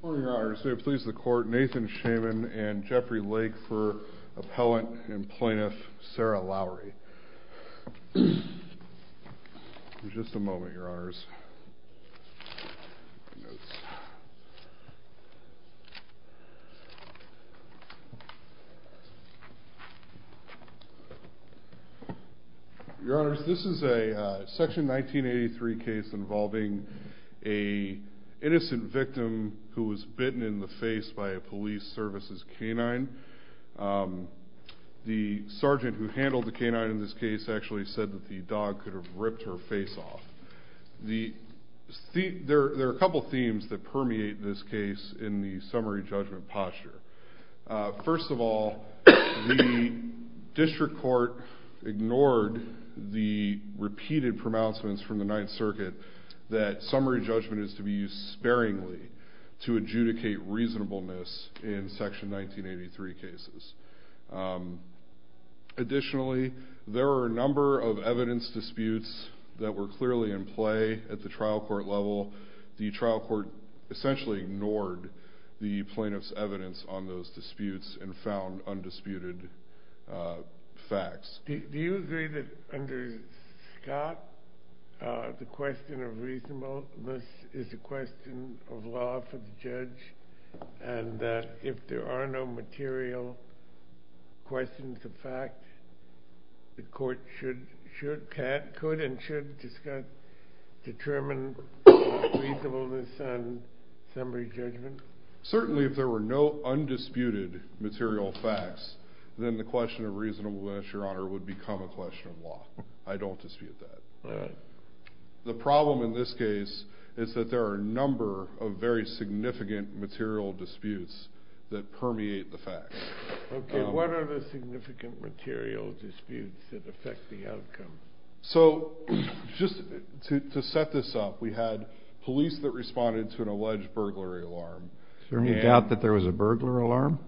Good morning, Your Honors. May it please the Court, Nathan Shaman and Jeffrey Lake for Appellant and Plaintiff Sarah Lowry. Just a moment, Your Honors. Your Honors, this is a section 1983 case involving an innocent victim who was bitten in the face by a police services canine. The sergeant who handled the canine in this case actually said that the dog could have ripped her face off. There are a couple themes that permeate this case in the summary judgment posture. First of all, the district court ignored the repeated pronouncements from the Ninth Circuit that summary judgment is to be used sparingly to adjudicate reasonableness in section 1983 cases. Additionally, there were a number of evidence disputes that were clearly in play at the trial court level. The trial court essentially ignored the plaintiff's evidence on those disputes and found undisputed facts. Do you agree that under Scott, the question of reasonableness is a question of law for the judge and that if there are no material questions of fact, the court could and should determine reasonableness on summary judgment? Certainly, if there were no undisputed material facts, then the question of reasonableness, Your Honor, would become a question of law. I don't dispute that. The problem in this case is that there are a number of very significant material disputes that permeate the facts. What are the significant material disputes that affect the outcome? To set this up, we had police that responded to an alleged burglary alarm. Is there any doubt that there was a burglar alarm?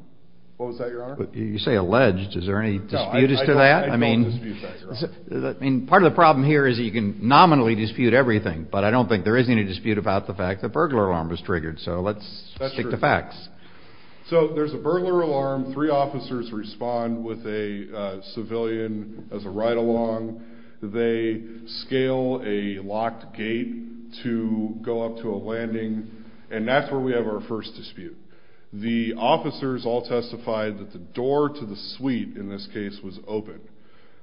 What was that, Your Honor? You say alleged. Is there any disputes to that? I don't dispute that, Your Honor. Part of the problem here is that you can nominally dispute everything, but I don't think there is any dispute about the fact that a burglar alarm was triggered. Let's stick to facts. There's a burglar alarm. Three officers respond with a civilian as a ride-along. They scale a locked gate to go up to a landing, and that's where we have our first dispute. The officers all testified that the door to the suite, in this case, was open.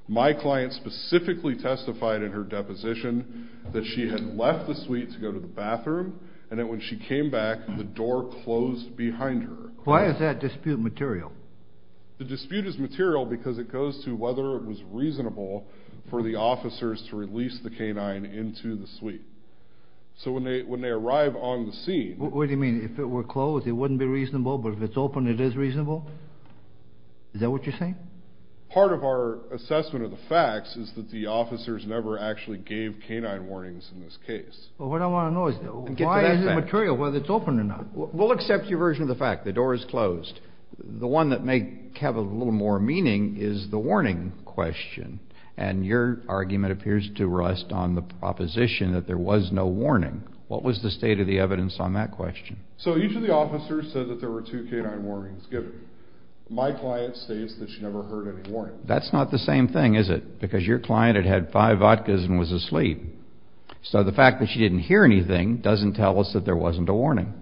My client specifically testified in her deposition that she had left the suite to go to the bathroom, and that when she came back, the door closed behind her. Why is that dispute material? The dispute is material because it goes to whether it was reasonable for the officers to release the canine into the suite. So when they arrive on the scene... What do you mean? If it were closed, it wouldn't be reasonable, but if it's open, it is reasonable? Is that what you're saying? Part of our assessment of the facts is that the officers never actually gave canine warnings in this case. Well, what I want to know is why is it material, whether it's open or not? We'll accept your version of the fact. The door is closed. The one that may have a little more meaning is the warning question, and your argument appears to rest on the proposition that there was no warning. What was the state of the evidence on that question? So each of the officers said that there were two canine warnings given. My client states that she never heard any warning. That's not the same thing, is it? Because your client had had five vodkas and was asleep. So the fact that she didn't hear anything doesn't tell us that there wasn't a warning.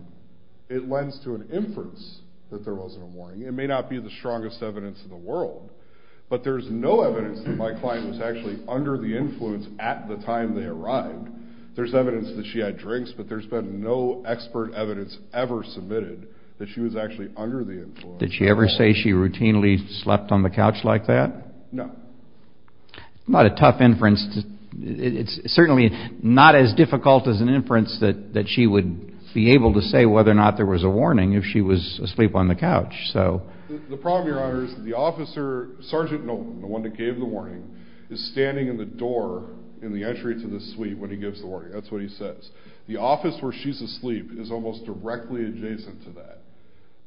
It lends to an inference that there wasn't a warning. It may not be the strongest evidence in the world, but there's no evidence that my client was actually under the influence at the time they arrived. There's evidence that she had drinks, but there's been no expert evidence ever submitted that she was actually under the influence. Did she ever say she routinely slept on the couch like that? No. Not a tough inference. It's certainly not as difficult as an inference that she would be able to say whether or not there was a warning if she was asleep on the couch. The problem, Your Honor, is that the officer, Sergeant Nolan, the one that gave the warning, is standing in the door in the entry to the suite when he gives the warning. That's what he says. The office where she's asleep is almost directly adjacent to that.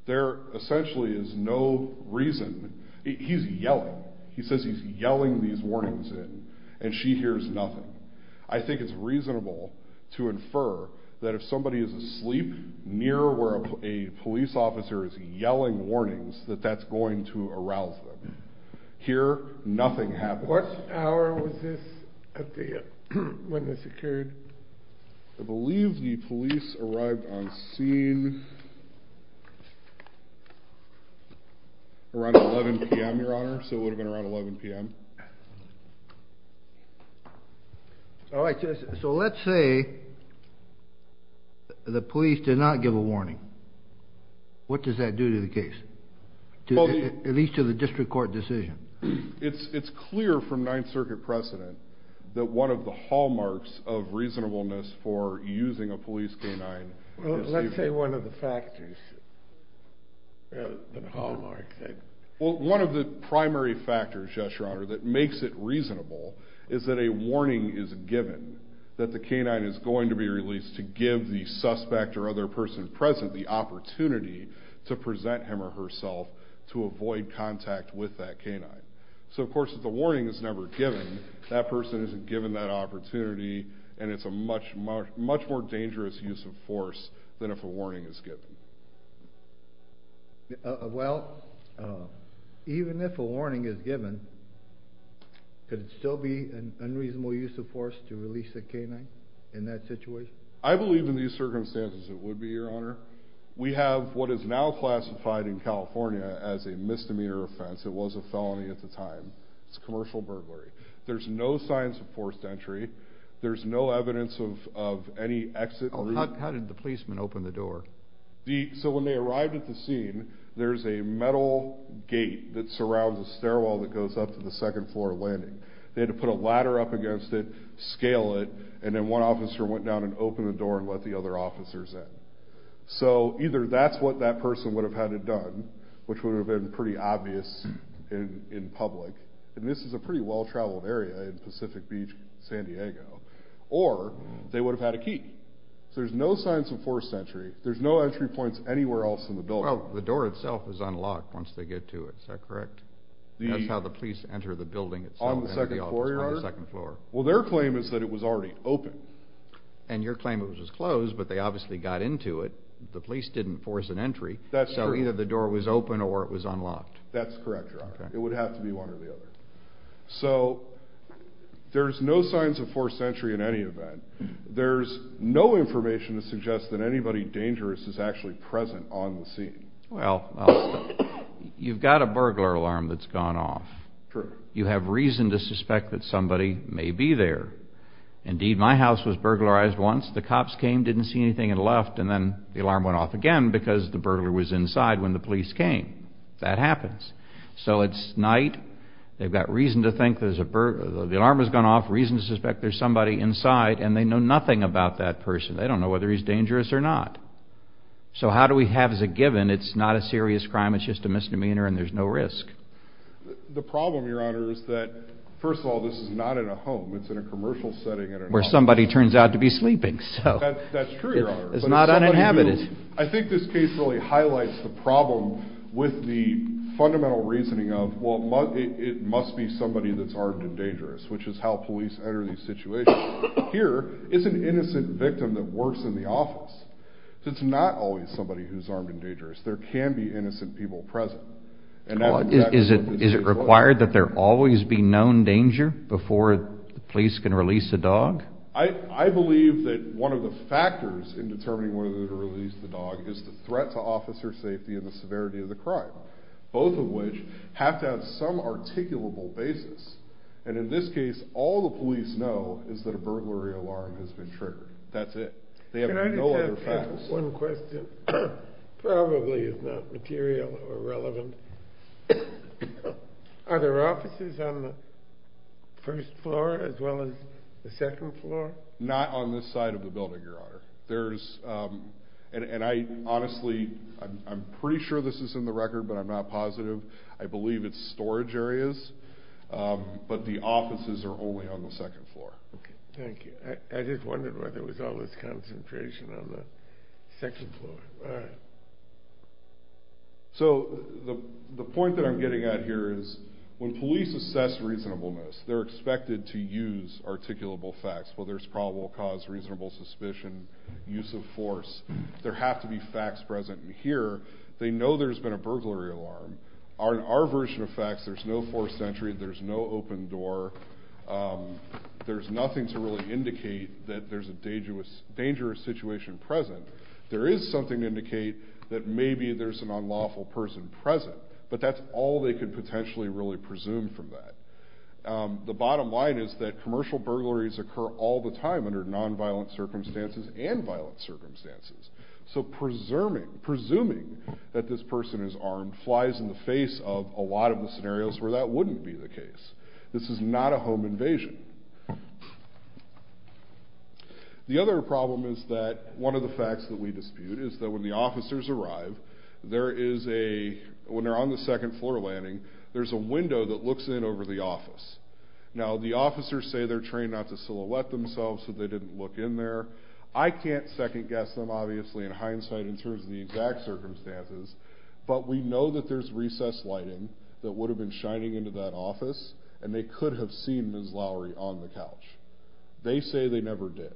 There essentially is no reason. He's yelling. He says he's yelling these warnings in, and she hears nothing. I think it's reasonable to infer that if somebody is asleep near where a police officer is yelling warnings, that that's going to arouse them. Here, nothing happened. What hour was this when this occurred? I believe the police arrived on scene around 11 p.m., Your Honor, so it would have been around 11 p.m. All right, so let's say the police did not give a warning. What does that do to the case, at least to the district court decision? It's clear from Ninth Circuit precedent that one of the hallmarks of reasonableness for using a police K-9 is to give it. Let's say one of the factors, the hallmark. Well, one of the primary factors, yes, Your Honor, that makes it reasonable is that a warning is given that the K-9 is going to be released to give the suspect or other person present the opportunity to present him or herself to avoid contact with that K-9. So, of course, if the warning is never given, that person isn't given that opportunity, and it's a much more dangerous use of force than if a warning is given. Well, even if a warning is given, could it still be an unreasonable use of force to release a K-9 in that situation? I believe in these circumstances it would be, Your Honor. We have what is now classified in California as a misdemeanor offense. It was a felony at the time. It's commercial burglary. There's no signs of forced entry. There's no evidence of any exit route. How did the policemen open the door? So when they arrived at the scene, there's a metal gate that surrounds a stairwell that goes up to the second floor landing. They had to put a ladder up against it, scale it, and then one officer went down and opened the door and let the other officers in. So either that's what that person would have had it done, which would have been pretty obvious in public, and this is a pretty well-traveled area in Pacific Beach, San Diego, or they would have had a key. So there's no signs of forced entry. There's no entry points anywhere else in the building. Well, the door itself is unlocked once they get to it. Is that correct? That's how the police enter the building itself. On the second floor? On the second floor. Well, their claim is that it was already open. And your claim was it was closed, but they obviously got into it. The police didn't force an entry. That's true. So either the door was open or it was unlocked. That's correct, Your Honor. It would have to be one or the other. So there's no signs of forced entry in any event. There's no information to suggest that anybody dangerous is actually present on the scene. Well, you've got a burglar alarm that's gone off. True. So you have reason to suspect that somebody may be there. Indeed, my house was burglarized once. The cops came, didn't see anything, and left, and then the alarm went off again because the burglar was inside when the police came. That happens. So it's night. They've got reason to think there's a burglar. The alarm has gone off, reason to suspect there's somebody inside, and they know nothing about that person. They don't know whether he's dangerous or not. So how do we have as a given it's not a serious crime, it's just a misdemeanor, and there's no risk? The problem, Your Honor, is that, first of all, this is not in a home. It's in a commercial setting. Where somebody turns out to be sleeping. That's true, Your Honor. It's not uninhabited. I think this case really highlights the problem with the fundamental reasoning of, well, it must be somebody that's armed and dangerous, which is how police enter these situations. Here is an innocent victim that works in the office. So it's not always somebody who's armed and dangerous. There can be innocent people present. Is it required that there always be known danger before the police can release the dog? I believe that one of the factors in determining whether to release the dog is the threat to officer safety and the severity of the crime, both of which have to have some articulable basis. And in this case, all the police know is that a burglary alarm has been triggered. That's it. They have no other facts. One question probably is not material or relevant. Are there offices on the first floor as well as the second floor? Not on this side of the building, Your Honor. And I'm pretty sure this is in the record, but I'm not positive. I believe it's storage areas. But the offices are only on the second floor. Thank you. I just wondered whether there was always concentration on the second floor. All right. So the point that I'm getting at here is when police assess reasonableness, they're expected to use articulable facts. Well, there's probable cause, reasonable suspicion, use of force. There have to be facts present. And here, they know there's been a burglary alarm. In our version of facts, there's no forced entry. There's no open door. There's nothing to really indicate that there's a dangerous situation present. There is something to indicate that maybe there's an unlawful person present. But that's all they could potentially really presume from that. The bottom line is that commercial burglaries occur all the time under nonviolent circumstances and violent circumstances. So presuming that this person is armed flies in the face of a lot of the scenarios where that wouldn't be the case. This is not a home invasion. The other problem is that one of the facts that we dispute is that when the officers arrive, when they're on the second floor landing, there's a window that looks in over the office. Now, the officers say they're trained not to silhouette themselves so they didn't look in there. I can't second guess them, obviously, in hindsight, in terms of the exact circumstances. But we know that there's recessed lighting that would have been shining into that office and they could have seen Ms. Lowery on the couch. They say they never did.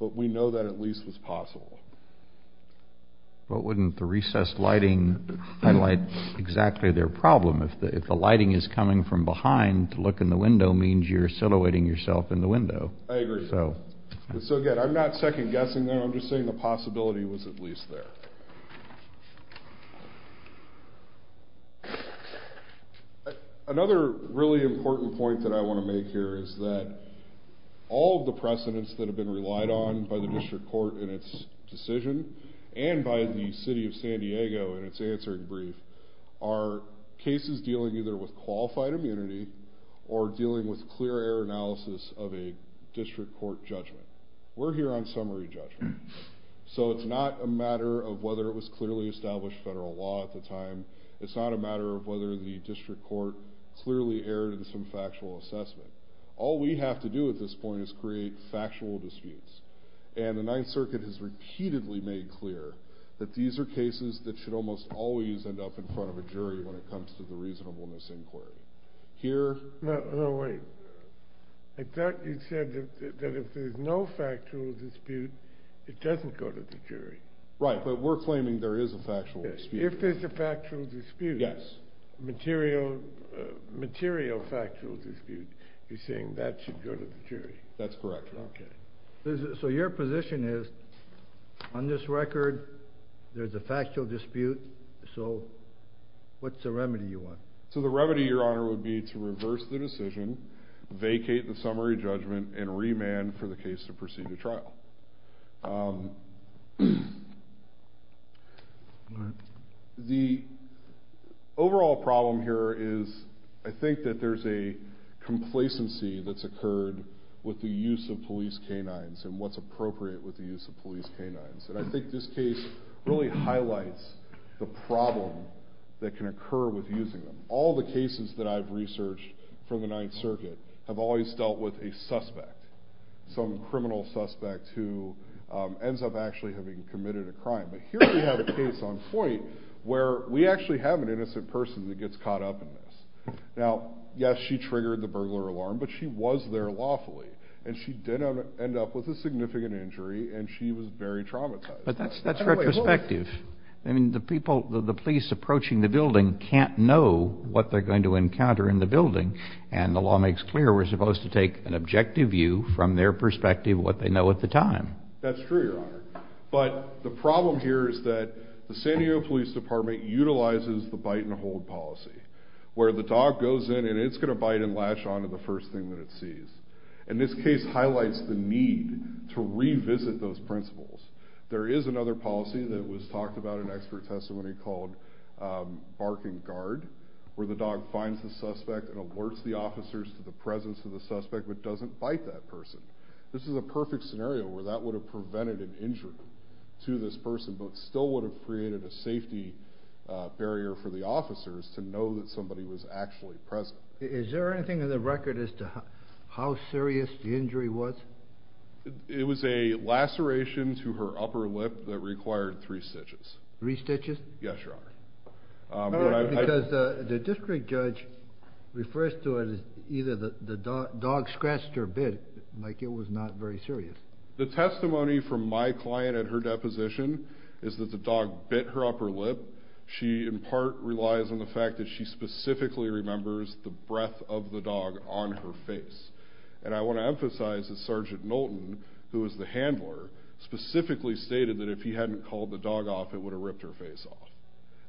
But we know that at least was possible. But wouldn't the recessed lighting highlight exactly their problem? If the lighting is coming from behind to look in the window, it means you're silhouetting yourself in the window. I agree. So, again, I'm not second guessing them. I'm just saying the possibility was at least there. Another really important point that I want to make here is that all of the precedents that have been relied on by the district court in its decision and by the city of San Diego in its answering brief are cases dealing either with qualified immunity or dealing with clear error analysis of a district court judgment. We're here on summary judgment. So it's not a matter of whether it was clearly established federal law at the time. It's not a matter of whether the district court clearly erred in some factual assessment. All we have to do at this point is create factual disputes. And the Ninth Circuit has repeatedly made clear that these are cases that should almost always end up in front of a jury when it comes to the reasonableness inquiry. Here? No, wait. I thought you said that if there's no factual dispute, it doesn't go to the jury. Right, but we're claiming there is a factual dispute. If there's a factual dispute, material factual dispute, you're saying that should go to the jury. That's correct. Okay. So your position is on this record there's a factual dispute, so what's the remedy you want? So the remedy, Your Honor, would be to reverse the decision, vacate the summary judgment, and remand for the case to proceed to trial. The overall problem here is I think that there's a complacency that's occurred with the use of police canines and what's appropriate with the use of police canines. And I think this case really highlights the problem that can occur with using them. All the cases that I've researched from the Ninth Circuit have always dealt with a suspect, some criminal suspect who ends up actually having committed a crime. But here we have a case on Foyt where we actually have an innocent person that gets caught up in this. Now, yes, she triggered the burglar alarm, but she was there lawfully, and she did end up with a significant injury, and she was very traumatized. But that's retrospective. I mean, the police approaching the building can't know what they're going to encounter in the building, and the law makes clear we're supposed to take an objective view from their perspective of what they know at the time. That's true, Your Honor. But the problem here is that the San Diego Police Department utilizes the bite-and-hold policy, where the dog goes in and it's going to bite and lash onto the first thing that it sees. And this case highlights the need to revisit those principles. There is another policy that was talked about in expert testimony called bark-and-guard, where the dog finds the suspect and alerts the officers to the presence of the suspect but doesn't bite that person. This is a perfect scenario where that would have prevented an injury to this person but still would have created a safety barrier for the officers to know that somebody was actually present. Is there anything in the record as to how serious the injury was? It was a laceration to her upper lip that required three stitches. Three stitches? Yes, Your Honor. Because the district judge refers to it as either the dog scratched her a bit, like it was not very serious. The testimony from my client at her deposition is that the dog bit her upper lip. She, in part, relies on the fact that she specifically remembers the breath of the dog on her face. And I want to emphasize that Sergeant Knowlton, who is the handler, specifically stated that if he hadn't called the dog off, it would have ripped her face off.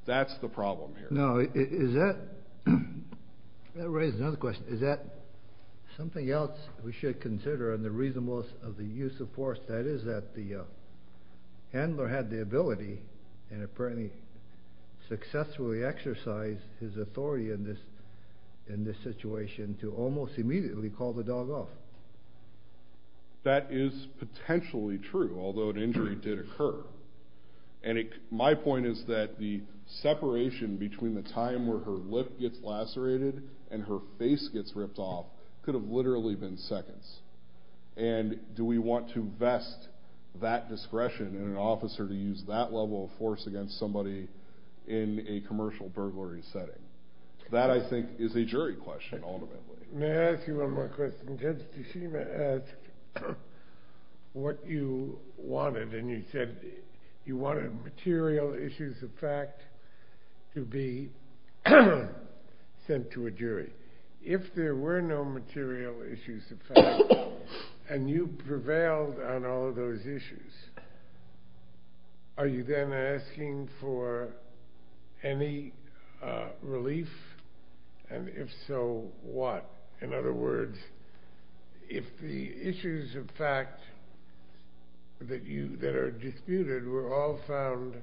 That's the problem here. Now, that raises another question. Is that something else we should consider in the reasonableness of the use of force, that is, that the handler had the ability and apparently successfully exercised his authority in this situation to almost immediately call the dog off? That is potentially true, although an injury did occur. And my point is that the separation between the time where her lip gets lacerated and her face gets ripped off could have literally been seconds. And do we want to vest that discretion in an officer to use that level of force against somebody in a commercial burglary setting? That, I think, is a jury question, ultimately. May I ask you one more question? Judge Teshima asked what you wanted, and you said you wanted material issues of fact to be sent to a jury. If there were no material issues of fact, and you prevailed on all of those issues, are you then asking for any relief? And if so, what? In other words, if the issues of fact that are disputed were all found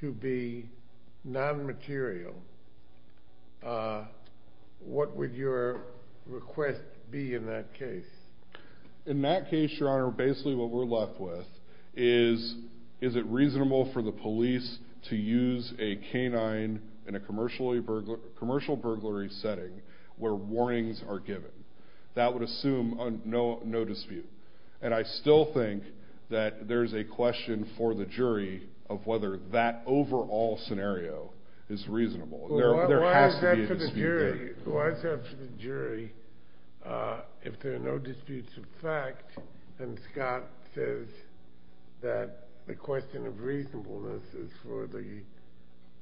to be non-material, what would your request be in that case? In that case, Your Honor, basically what we're left with is, is it reasonable for the police to use a canine in a commercial burglary setting where warnings are given? That would assume no dispute. And I still think that there's a question for the jury of whether that overall scenario is reasonable. There has to be a dispute there. Why is that for the jury? If there are no disputes of fact, then Scott says that the question of reasonableness is for the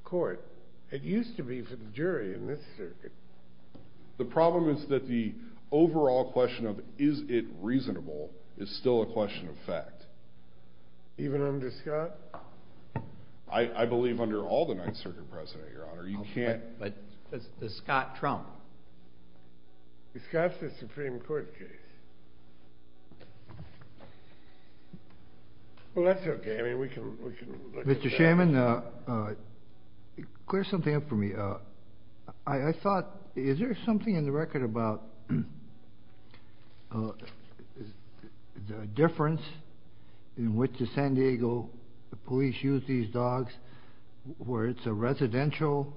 court. It used to be for the jury in this circuit. The problem is that the overall question of is it reasonable is still a question of fact. Even under Scott? I believe under all the Ninth Circuit President, Your Honor. You can't. But does Scott trump? Scott's a Supreme Court case. Well, that's okay. I mean, we can look at that. Mr. Chairman, clear something up for me. I thought, is there something in the record about the difference in which the San Diego police use these dogs where it's a residential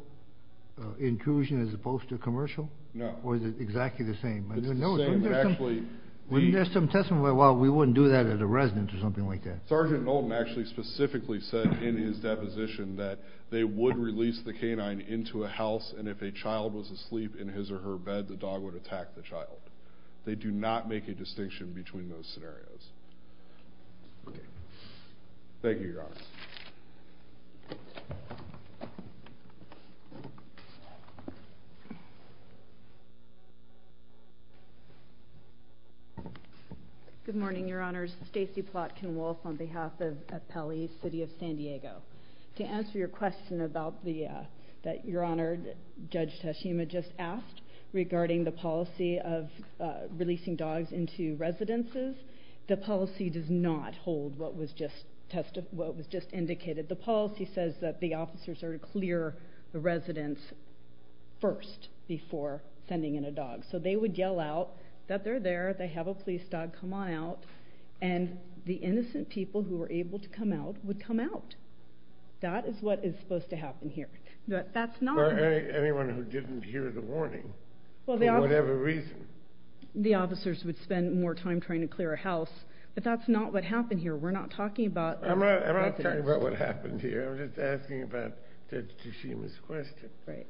intrusion as opposed to commercial? No. Or is it exactly the same? It's the same, but actually the — Wouldn't there be some testimony, well, we wouldn't do that at a residence or something like that? Sergeant Knowlton actually specifically said in his deposition that they would release the canine into a house, and if a child was asleep in his or her bed, the dog would attack the child. They do not make a distinction between those scenarios. Okay. Thank you, Your Honor. Good morning, Your Honors. Stacey Plotkin-Wolf on behalf of Pele, City of San Diego. To answer your question about the — that Your Honor, Judge Tashima just asked regarding the policy of releasing dogs into residences, the policy does not hold what was just indicated. The policy says that the officers are to clear the residence first before sending in a dog. So they would yell out that they're there, they have a police dog, come on out, and the innocent people who were able to come out would come out. That is what is supposed to happen here. That's not — Or anyone who didn't hear the warning, for whatever reason. The officers would spend more time trying to clear a house, but that's not what happened here. We're not talking about — I'm not talking about what happened here. I'm just asking about Judge Tashima's question. Right.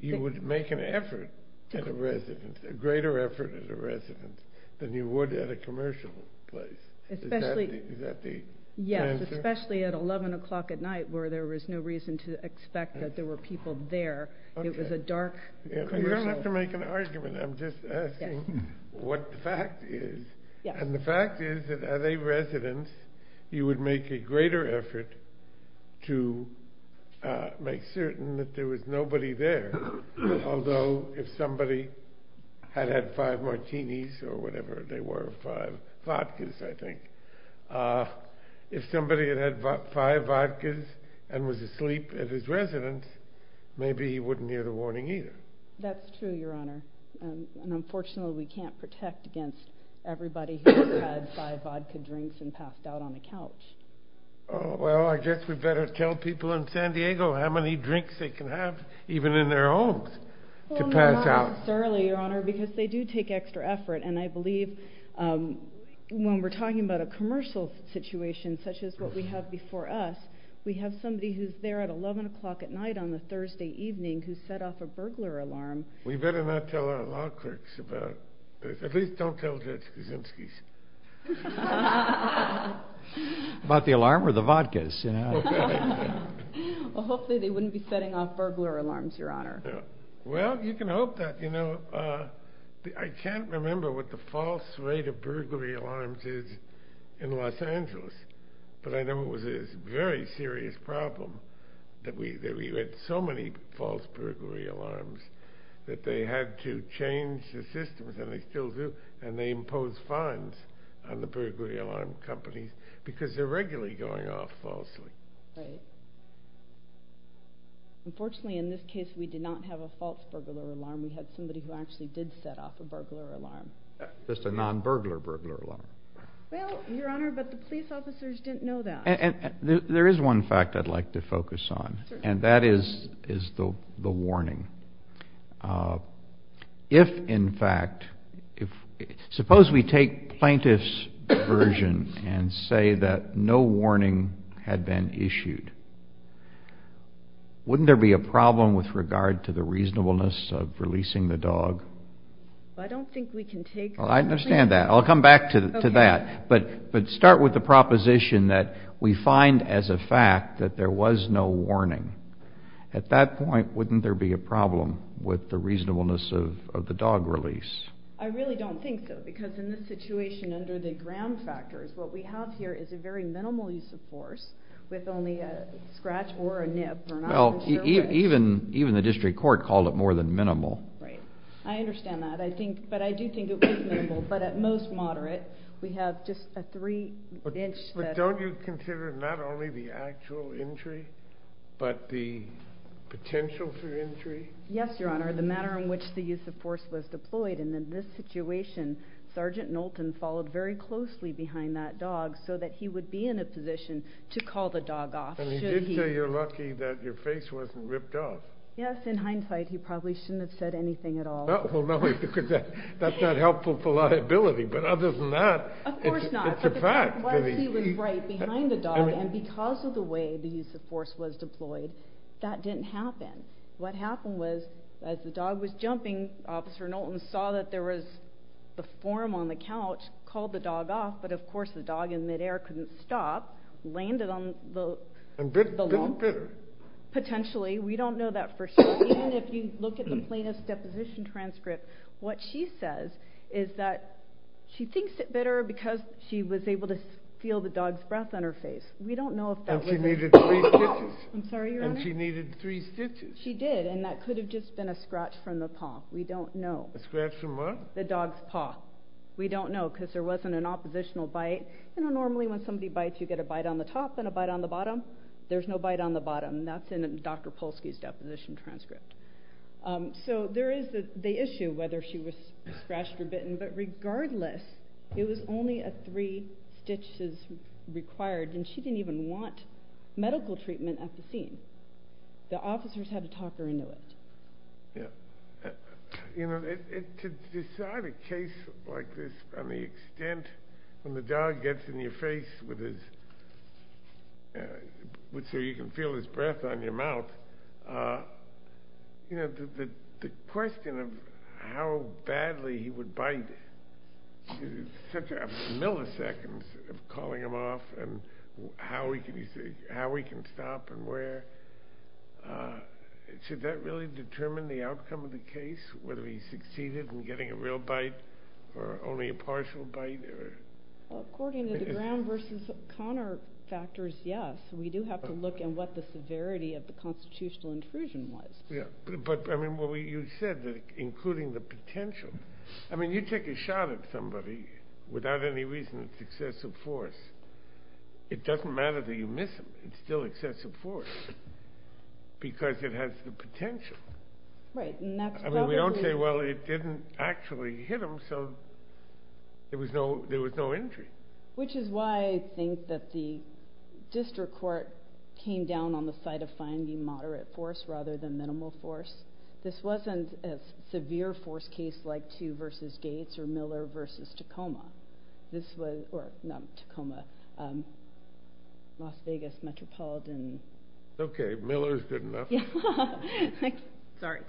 You would make an effort at a residence, a greater effort at a residence, than you would at a commercial place. Is that the answer? Yes, especially at 11 o'clock at night where there was no reason to expect that there were people there. It was a dark commercial — You don't have to make an argument. I'm just asking what the fact is. And the fact is that at a residence, you would make a greater effort to make certain that there was nobody there, although if somebody had had five martinis or whatever they were, five vodkas, I think, if somebody had had five vodkas and was asleep at his residence, maybe he wouldn't hear the warning either. That's true, Your Honor. And, unfortunately, we can't protect against everybody who has had five vodka drinks and passed out on the couch. Well, I guess we better tell people in San Diego how many drinks they can have, even in their homes, to pass out. Well, not necessarily, Your Honor, because they do take extra effort, and I believe when we're talking about a commercial situation such as what we have before us, we have somebody who's there at 11 o'clock at night on a Thursday evening who set off a burglar alarm. We better not tell our law clerks about this. At least don't tell Judge Kaczynski's. About the alarm or the vodkas? Well, hopefully they wouldn't be setting off burglar alarms, Your Honor. Well, you can hope that. I can't remember what the false rate of burglary alarms is in Los Angeles, but I know it was a very serious problem that we had so many false burglary alarms that they had to change the systems, and they still do, and they impose fines on the burglary alarm companies because they're regularly going off falsely. Right. Unfortunately, in this case, we did not have a false burglar alarm. We had somebody who actually did set off a burglar alarm. Just a non-burglar burglar alarm. Well, Your Honor, but the police officers didn't know that. There is one fact I'd like to focus on, and that is the warning. If, in fact, suppose we take plaintiff's version and say that no warning had been issued, wouldn't there be a problem with regard to the reasonableness of releasing the dog? I don't think we can take that. I understand that. I'll come back to that. But start with the proposition that we find as a fact that there was no warning. At that point, wouldn't there be a problem with the reasonableness of the dog release? I really don't think so, because in this situation, under the ground factors, what we have here is a very minimal use of force with only a scratch or a nip. Well, even the district court called it more than minimal. Right. I understand that. But I do think it was minimal. But at most moderate. We have just a three-inch. But don't you consider not only the actual injury, but the potential for injury? Yes, Your Honor. The manner in which the use of force was deployed. And in this situation, Sergeant Knowlton followed very closely behind that dog so that he would be in a position to call the dog off, should he. And he did say you're lucky that your face wasn't ripped off. Yes. In hindsight, he probably shouldn't have said anything at all. Well, no, because that's not helpful for liability. But other than that, it's a fact. Of course not. But he was right behind the dog. And because of the way the use of force was deployed, that didn't happen. What happened was, as the dog was jumping, Officer Knowlton saw that there was a form on the couch, called the dog off. But, of course, the dog in midair couldn't stop, landed on the lump. And bit him bitter. Potentially. We don't know that for sure. Even if you look at the plaintiff's deposition transcript, what she says is that she thinks it bit her because she was able to feel the dog's breath on her face. We don't know if that was it. And she needed three stitches. I'm sorry, Your Honor? And she needed three stitches. She did. And that could have just been a scratch from the paw. We don't know. A scratch from what? The dog's paw. We don't know because there wasn't an oppositional bite. There's no bite on the bottom. That's in Dr. Polsky's deposition transcript. So there is the issue whether she was scratched or bitten. But regardless, it was only three stitches required. And she didn't even want medical treatment at the scene. The officers had to talk her into it. Yeah. You know, to decide a case like this, on the extent when the dog gets in your face so you can feel his breath on your mouth, the question of how badly he would bite, such milliseconds of calling him off, and how he can stop and where, should that really determine the outcome of the case, whether he succeeded in getting a real bite or only a partial bite? According to the ground versus Connor factors, yes. We do have to look at what the severity of the constitutional intrusion was. Yeah. But, I mean, you said including the potential. I mean, you take a shot at somebody without any reason it's excessive force. It doesn't matter that you miss him. It's still excessive force because it has the potential. Right. I mean, we don't say, well, it didn't actually hit him, so there was no injury. Which is why I think that the district court came down on the side of finding moderate force rather than minimal force. This wasn't a severe force case like two versus Gates or Miller versus Tacoma. This was, or not Tacoma, Las Vegas Metropolitan. Okay, Miller's good enough. Sorry.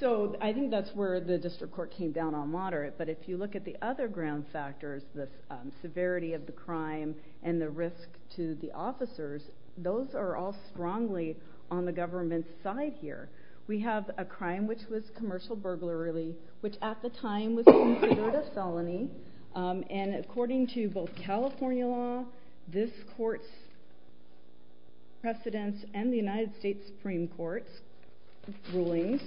So I think that's where the district court came down on moderate. But if you look at the other ground factors, the severity of the crime and the risk to the officers, those are all strongly on the government's side here. We have a crime which was commercial burglary, which at the time was considered a felony. And according to both California law, this court's precedents and the United States Supreme Court's rulings,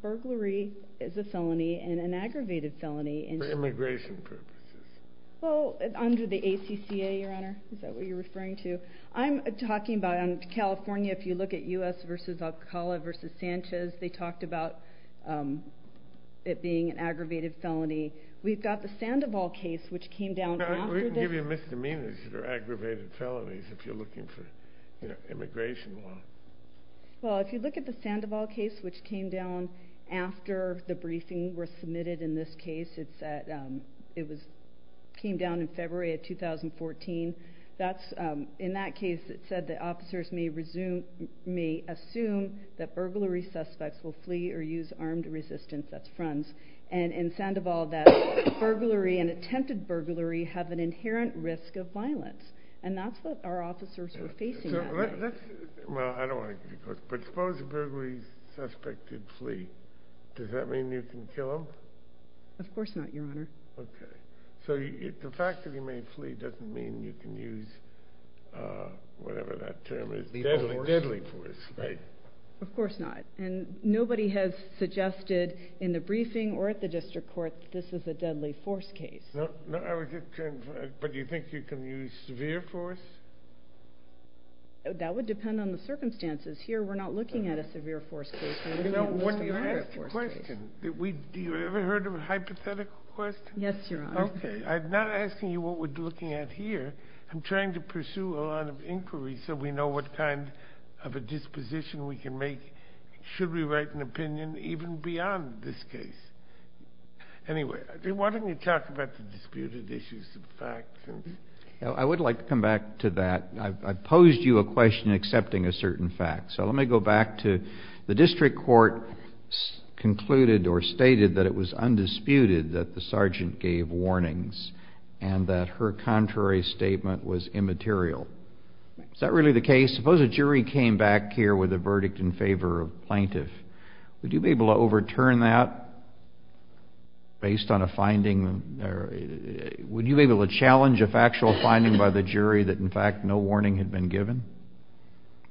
burglary is a felony and an aggravated felony. For immigration purposes. Well, under the ACCA, Your Honor, is that what you're referring to? I'm talking about California. If you look at U.S. versus Alcala versus Sanchez, they talked about it being an aggravated felony. We've got the Sandoval case, which came down after that. We can give you misdemeanors that are aggravated felonies if you're looking for immigration law. Well, if you look at the Sandoval case, which came down after the briefing was submitted in this case, it came down in February of 2014. In that case, it said the officers may assume that burglary suspects will flee or use armed resistance, that's fronts. And in Sandoval, that burglary and attempted burglary have an inherent risk of violence. And that's what our officers were facing that night. Well, I don't want to give you a course, but suppose a burglary suspect did flee. Does that mean you can kill him? Of course not, Your Honor. Okay. So the fact that he may flee doesn't mean you can use whatever that term is. Deadly force. Deadly force, right. Of course not. And nobody has suggested in the briefing or at the district court that this is a deadly force case. But do you think you can use severe force? That would depend on the circumstances. Here we're not looking at a severe force case. Do you ever heard of a hypothetical question? Yes, Your Honor. Okay. I'm not asking you what we're looking at here. I'm trying to pursue a line of inquiry so we know what kind of a disposition we can make. Should we write an opinion even beyond this case? Anyway, why don't you talk about the disputed issues of fact? I would like to come back to that. I posed you a question accepting a certain fact. So let me go back to the district court concluded or stated that it was undisputed that the sergeant gave warnings and that her contrary statement was immaterial. Is that really the case? Suppose a jury came back here with a verdict in favor of a plaintiff. Would you be able to overturn that based on a finding? Would you be able to challenge a factual finding by the jury that in fact no warning had been given?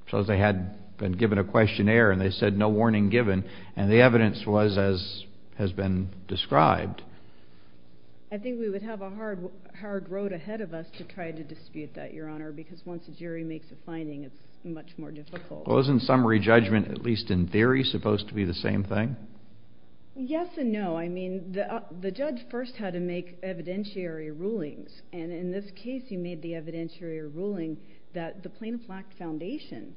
Suppose they had been given a questionnaire and they said no warning given and the evidence was as has been described. I think we would have a hard road ahead of us to try to dispute that, Your Honor. Because once a jury makes a finding, it's much more difficult. Wasn't summary judgment, at least in theory, supposed to be the same thing? Yes and no. I mean the judge first had to make evidentiary rulings, and in this case he made the evidentiary ruling that the plaintiff lacked foundation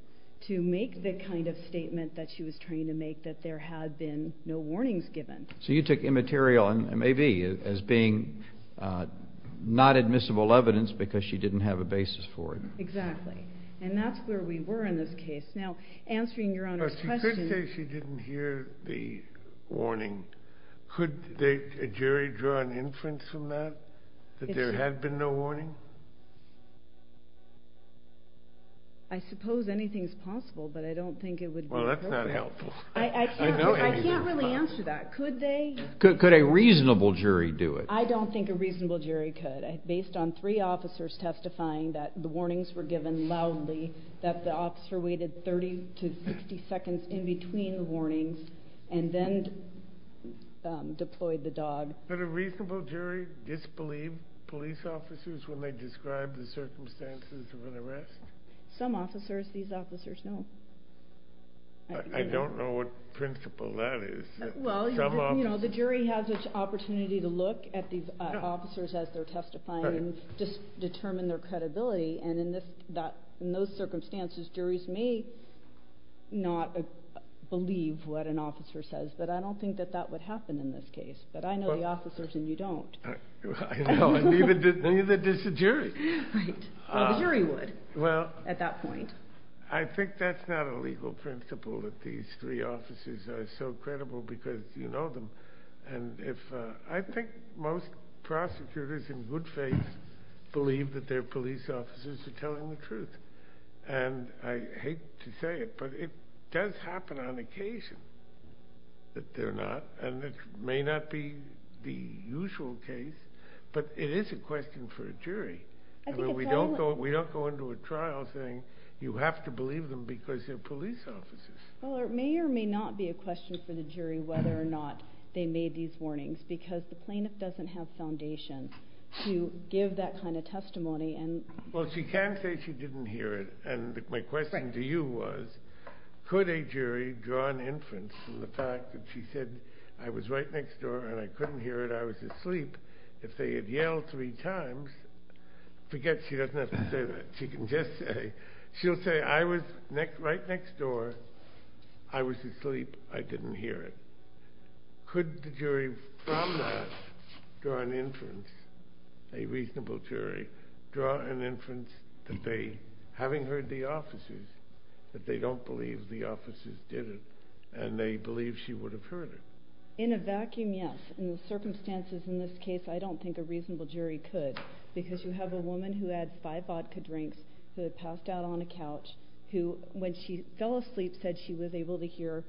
to make the kind of statement that she was trying to make that there had been no warnings given. So you took immaterial and maybe as being not admissible evidence because she didn't have a basis for it. Exactly. And that's where we were in this case. Now, answering Your Honor's question. But she could say she didn't hear the warning. Could a jury draw an inference from that that there had been no warning? I suppose anything is possible, but I don't think it would be appropriate. Well, that's not helpful. I can't really answer that. Could they? Could a reasonable jury do it? I don't think a reasonable jury could. Based on three officers testifying that the warnings were given loudly, that the officer waited 30 to 60 seconds in between the warnings and then deployed the dog. Could a reasonable jury disbelieve police officers when they describe the circumstances of an arrest? Some officers. These officers, no. I don't know what principle that is. The jury has an opportunity to look at the officers as they're testifying and determine their credibility. And in those circumstances, juries may not believe what an officer says. But I don't think that that would happen in this case. But I know the officers and you don't. Neither does the jury. Well, the jury would at that point. I think that's not a legal principle that these three officers are so credible because you know them. I think most prosecutors in good faith believe that their police officers are telling the truth. And I hate to say it, but it does happen on occasion that they're not. And it may not be the usual case, but it is a question for a jury. We don't go into a trial saying you have to believe them because they're police officers. Well, it may or may not be a question for the jury whether or not they made these warnings because the plaintiff doesn't have foundation to give that kind of testimony. Well, she can say she didn't hear it, and my question to you was, could a jury draw an inference from the fact that she said, I was right next door and I couldn't hear it, I was asleep. If they had yelled three times, forget she doesn't have to say that, she can just say, she'll say, I was right next door, I was asleep, I didn't hear it. Could the jury from that draw an inference, a reasonable jury, draw an inference that they, having heard the officers, that they don't believe the officers did it and they believe she would have heard it? In a vacuum, yes. In the circumstances in this case, I don't think a reasonable jury could because you have a woman who had five vodka drinks, who had passed out on a couch, who, when she fell asleep, said she was able to hear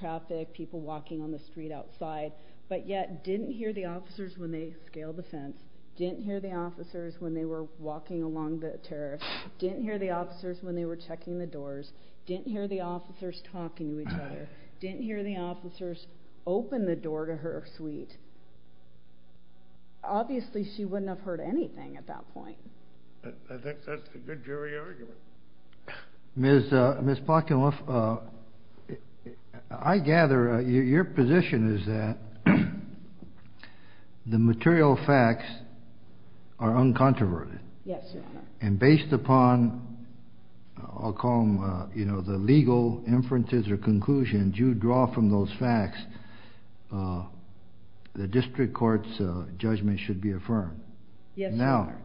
traffic, people walking on the street outside, but yet didn't hear the officers when they scaled the fence, didn't hear the officers when they were walking along the terrace, didn't hear the officers when they were checking the doors, didn't hear the officers talking to each other, didn't hear the officers open the door to her suite. Obviously she wouldn't have heard anything at that point. I think that's a good jury argument. Ms. Plotkin-Wolf, I gather your position is that the material facts are uncontroverted. Yes, Your Honor. And based upon, I'll call them the legal inferences or conclusions, you draw from those facts, the district court's judgment should be affirmed. Yes, Your Honor.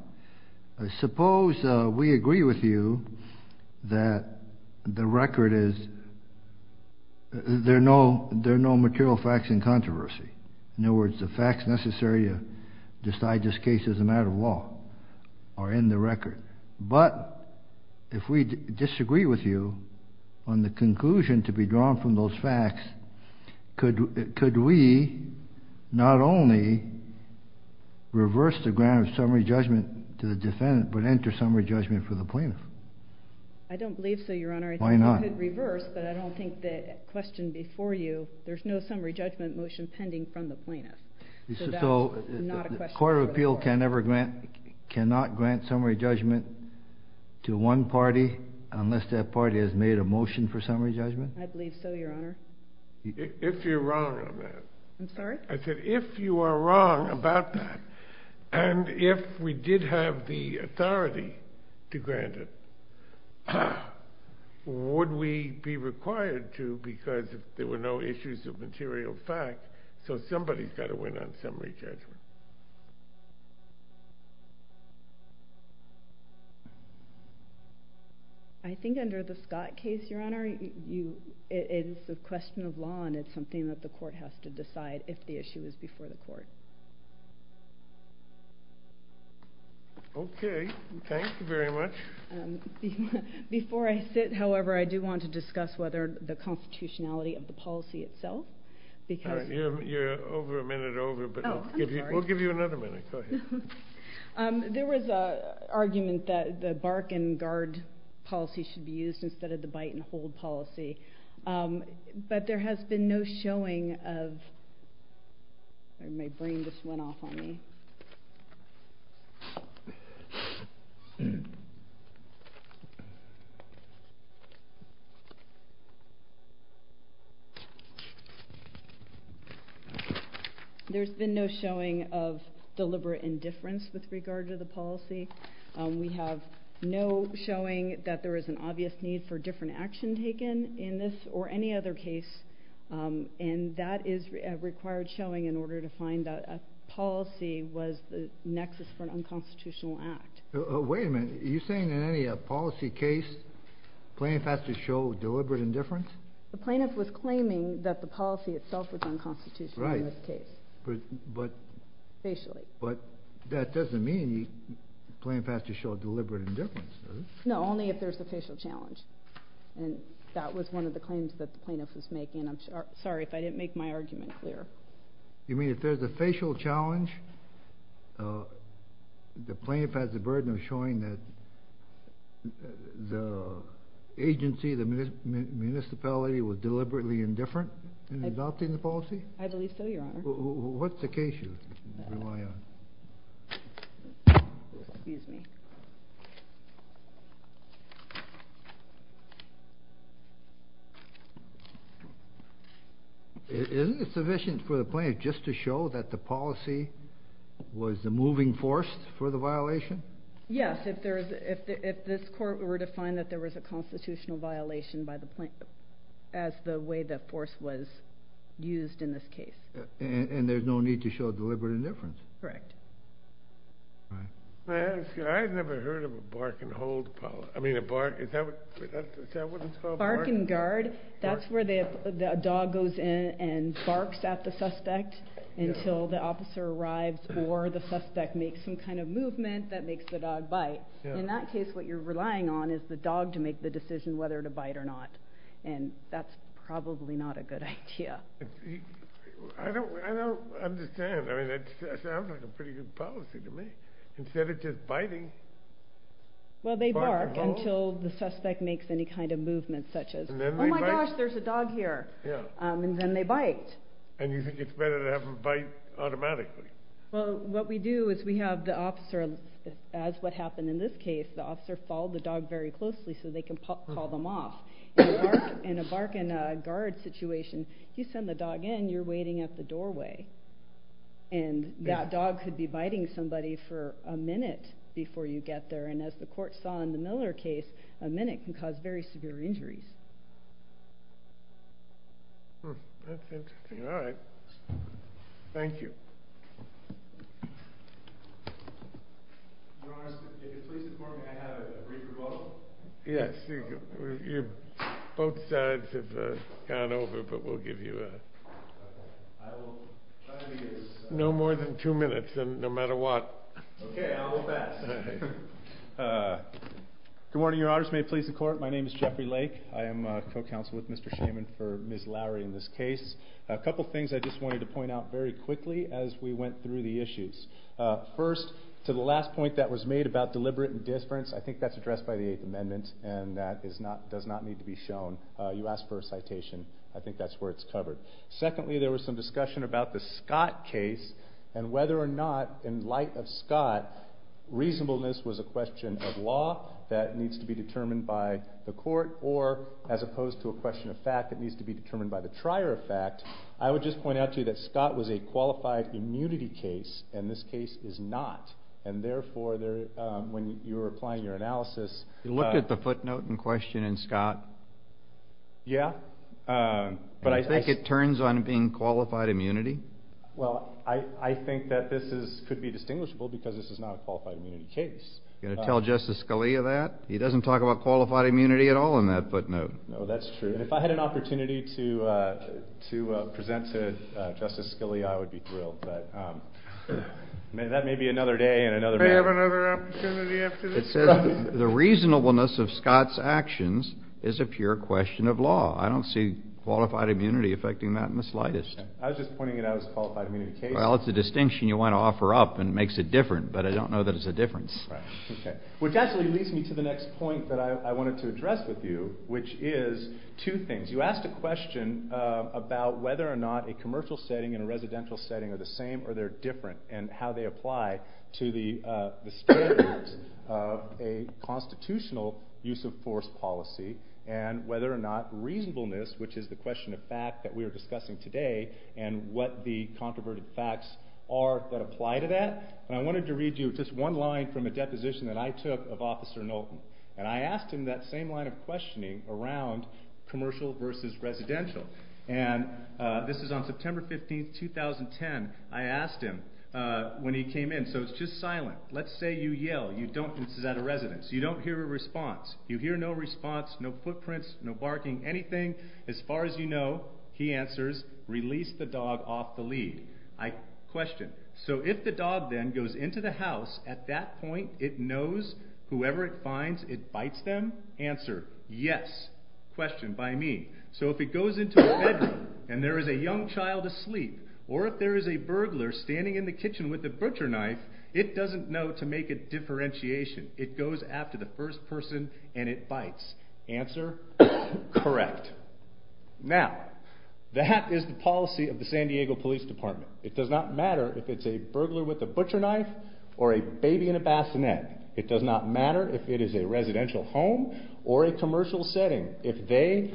Now, suppose we agree with you that the record is there are no material facts in controversy. In other words, the facts necessary to decide this case as a matter of law are in the record. But if we disagree with you on the conclusion to be drawn from those facts, could we not only reverse the grant of summary judgment to the defendant but enter summary judgment for the plaintiff? I don't believe so, Your Honor. Why not? I think you could reverse, but I don't think the question before you, there's no summary judgment motion pending from the plaintiff. So the court of appeal cannot grant summary judgment to one party unless that party has made a motion for summary judgment? I believe so, Your Honor. If you're wrong on that. I'm sorry? I said if you are wrong about that, and if we did have the authority to grant it, would we be required to because there were no issues of material fact, so somebody's got to win on summary judgment. I think under the Scott case, Your Honor, it's a question of law, and it's something that the court has to decide if the issue is before the court. Okay. Thank you very much. Before I sit, however, I do want to discuss whether the constitutionality of the policy itself All right. You're over a minute over, but we'll give you another minute. Go ahead. There was an argument that the bark and guard policy should be used instead of the bite and hold policy, but there has been no showing of My brain just went off on me. There's been no showing of deliberate indifference with regard to the policy. We have no showing that there is an obvious need for different action taken in this or any other case, and that is required showing in order to find a policy was the nexus for an unconstitutional act. Wait a minute. Are you saying in any policy case, plaintiff has to show deliberate indifference? The plaintiff was claiming that the policy itself was unconstitutional in this case. Right, but that doesn't mean the plaintiff has to show deliberate indifference, does it? No, only if there's a facial challenge, and that was one of the claims that the plaintiff was making. I'm sorry if I didn't make my argument clear. You mean if there's a facial challenge, the plaintiff has the burden of showing that the agency, the municipality, was deliberately indifferent in adopting the policy? I believe so, Your Honor. What's the case you rely on? Excuse me. Isn't it sufficient for the plaintiff just to show that the policy was the moving force for the violation? Yes, if this court were to find that there was a constitutional violation as the way the force was used in this case. And there's no need to show deliberate indifference? Correct. I've never heard of a bark and hold policy. I mean a bark, is that what it's called? Bark and guard, that's where the dog goes in and barks at the suspect until the officer arrives or the suspect makes some kind of movement that makes the dog bite. In that case, what you're relying on is the dog to make the decision whether to bite or not, and that's probably not a good idea. I don't understand. I mean, that sounds like a pretty good policy to me. Instead of just biting. Well, they bark until the suspect makes any kind of movement such as, oh my gosh, there's a dog here, and then they bite. And you think it's better to have them bite automatically? Well, what we do is we have the officer, as what happened in this case, the officer followed the dog very closely so they can call them off. In a bark and guard situation, you send the dog in, you're waiting at the doorway, and that dog could be biting somebody for a minute before you get there, and as the court saw in the Miller case, a minute can cause very severe injuries. That's interesting. All right. Thank you. Your Honor, if it pleases the court, may I have a brief rebuttal? Yes. Both sides have gone over, but we'll give you a... Okay. I will try to be as... No more than two minutes, no matter what. Okay. I will pass. Good morning, Your Honor. This may please the court. My name is Jeffrey Lake. I am co-counsel with Mr. Shaman for Ms. Lowry in this case. A couple things I just wanted to point out very quickly as we went through the issues. First, to the last point that was made about deliberate indifference, I think that's addressed by the Eighth Amendment, and that does not need to be shown. You asked for a citation. I think that's where it's covered. Secondly, there was some discussion about the Scott case, and whether or not, in light of Scott, reasonableness was a question of law that needs to be determined by the court, or as opposed to a question of fact that needs to be determined by the trier of fact, I would just point out to you that Scott was a qualified immunity case, and this case is not. Therefore, when you were applying your analysis... You looked at the footnote in question in Scott? Yeah. Do you think it turns on being qualified immunity? Well, I think that this could be distinguishable because this is not a qualified immunity case. Are you going to tell Justice Scalia that? He doesn't talk about qualified immunity at all in that footnote. No, that's true. If I had an opportunity to present to Justice Scalia, I would be thrilled, but that may be another day and another matter. May I have another opportunity after this? It says the reasonableness of Scott's actions is a pure question of law. I don't see qualified immunity affecting that in the slightest. I was just pointing it out as a qualified immunity case. Well, it's a distinction you want to offer up, and it makes it different, but I don't know that it's a difference. Right. Okay. Which actually leads me to the next point that I wanted to address with you, which is two things. You asked a question about whether or not a commercial setting and a residential setting are the same or they're different and how they apply to the standards of a constitutional use-of-force policy and whether or not reasonableness, which is the question of fact that we are discussing today and what the controverted facts are that apply to that. I wanted to read you just one line from a deposition that I took of Officer Knowlton, and I asked him that same line of questioning around commercial versus residential, and this is on September 15, 2010. I asked him when he came in, so it's just silent. Let's say you yell. This is at a residence. You don't hear a response. You hear no response, no footprints, no barking, anything. As far as you know, he answers, release the dog off the lead. Question. So if the dog then goes into the house, at that point it knows whoever it finds, it bites them? Answer. Yes. Question. By me. So if it goes into a bedroom and there is a young child asleep or if there is a burglar standing in the kitchen with a butcher knife, it doesn't know to make a differentiation. It goes after the first person and it bites. Answer. Correct. Now, that is the policy of the San Diego Police Department. It does not matter if it's a burglar with a butcher knife or a baby in a bassinet. It does not matter if it is a residential home or a commercial setting. If they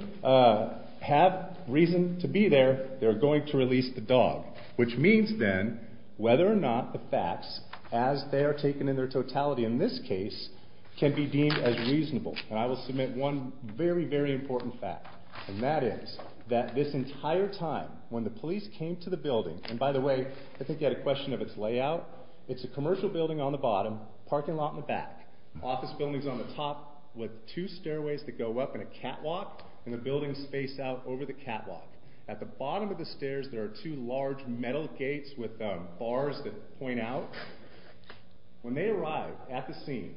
have reason to be there, they're going to release the dog, which means then whether or not the facts, as they are taken in their totality in this case, can be deemed as reasonable. And I will submit one very, very important fact, and that is that this entire time when the police came to the building, and by the way, I think you had a question of its layout. It's a commercial building on the bottom, parking lot in the back, office buildings on the top with two stairways that go up and a catwalk, and the buildings face out over the catwalk. At the bottom of the stairs there are two large metal gates with bars that point out. When they arrived at the scene,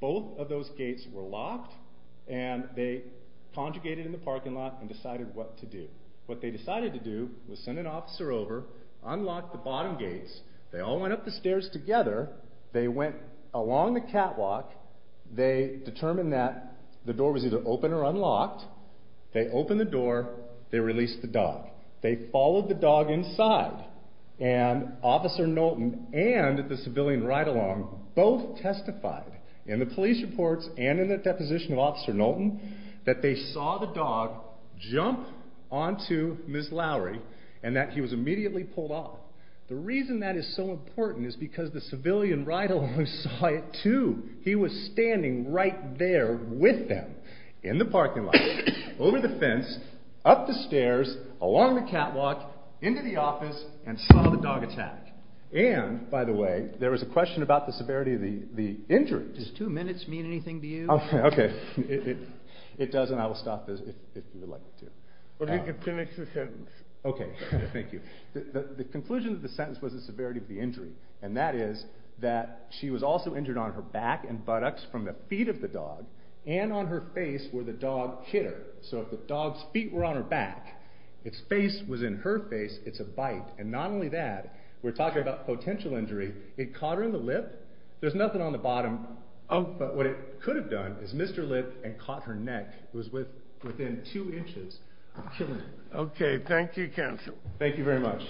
both of those gates were locked, and they conjugated in the parking lot and decided what to do. What they decided to do was send an officer over, unlock the bottom gates. They all went up the stairs together. They went along the catwalk. They determined that the door was either open or unlocked. They opened the door. They released the dog. They followed the dog inside, and Officer Knowlton and the civilian ride-along both testified in the police reports and in the deposition of Officer Knowlton that they saw the dog jump onto Ms. Lowry and that he was immediately pulled off. The reason that is so important is because the civilian ride-along saw it too. He was standing right there with them in the parking lot, over the fence, up the stairs, along the catwalk, into the office, and saw the dog attack. And, by the way, there was a question about the severity of the injury. Does two minutes mean anything to you? Okay. It doesn't. I will stop if you would like me to. Well, you can finish the sentence. Okay. Thank you. The conclusion of the sentence was the severity of the injury, and that is that she was also injured on her back and buttocks from the feet of the dog and on her face where the dog hit her. So if the dog's feet were on her back, its face was in her face, it's a bite. And not only that, we're talking about potential injury. It caught her in the lip. There's nothing on the bottom. But what it could have done is missed her lip and caught her neck. It was within two inches. Okay. Thank you, counsel. Thank you very much.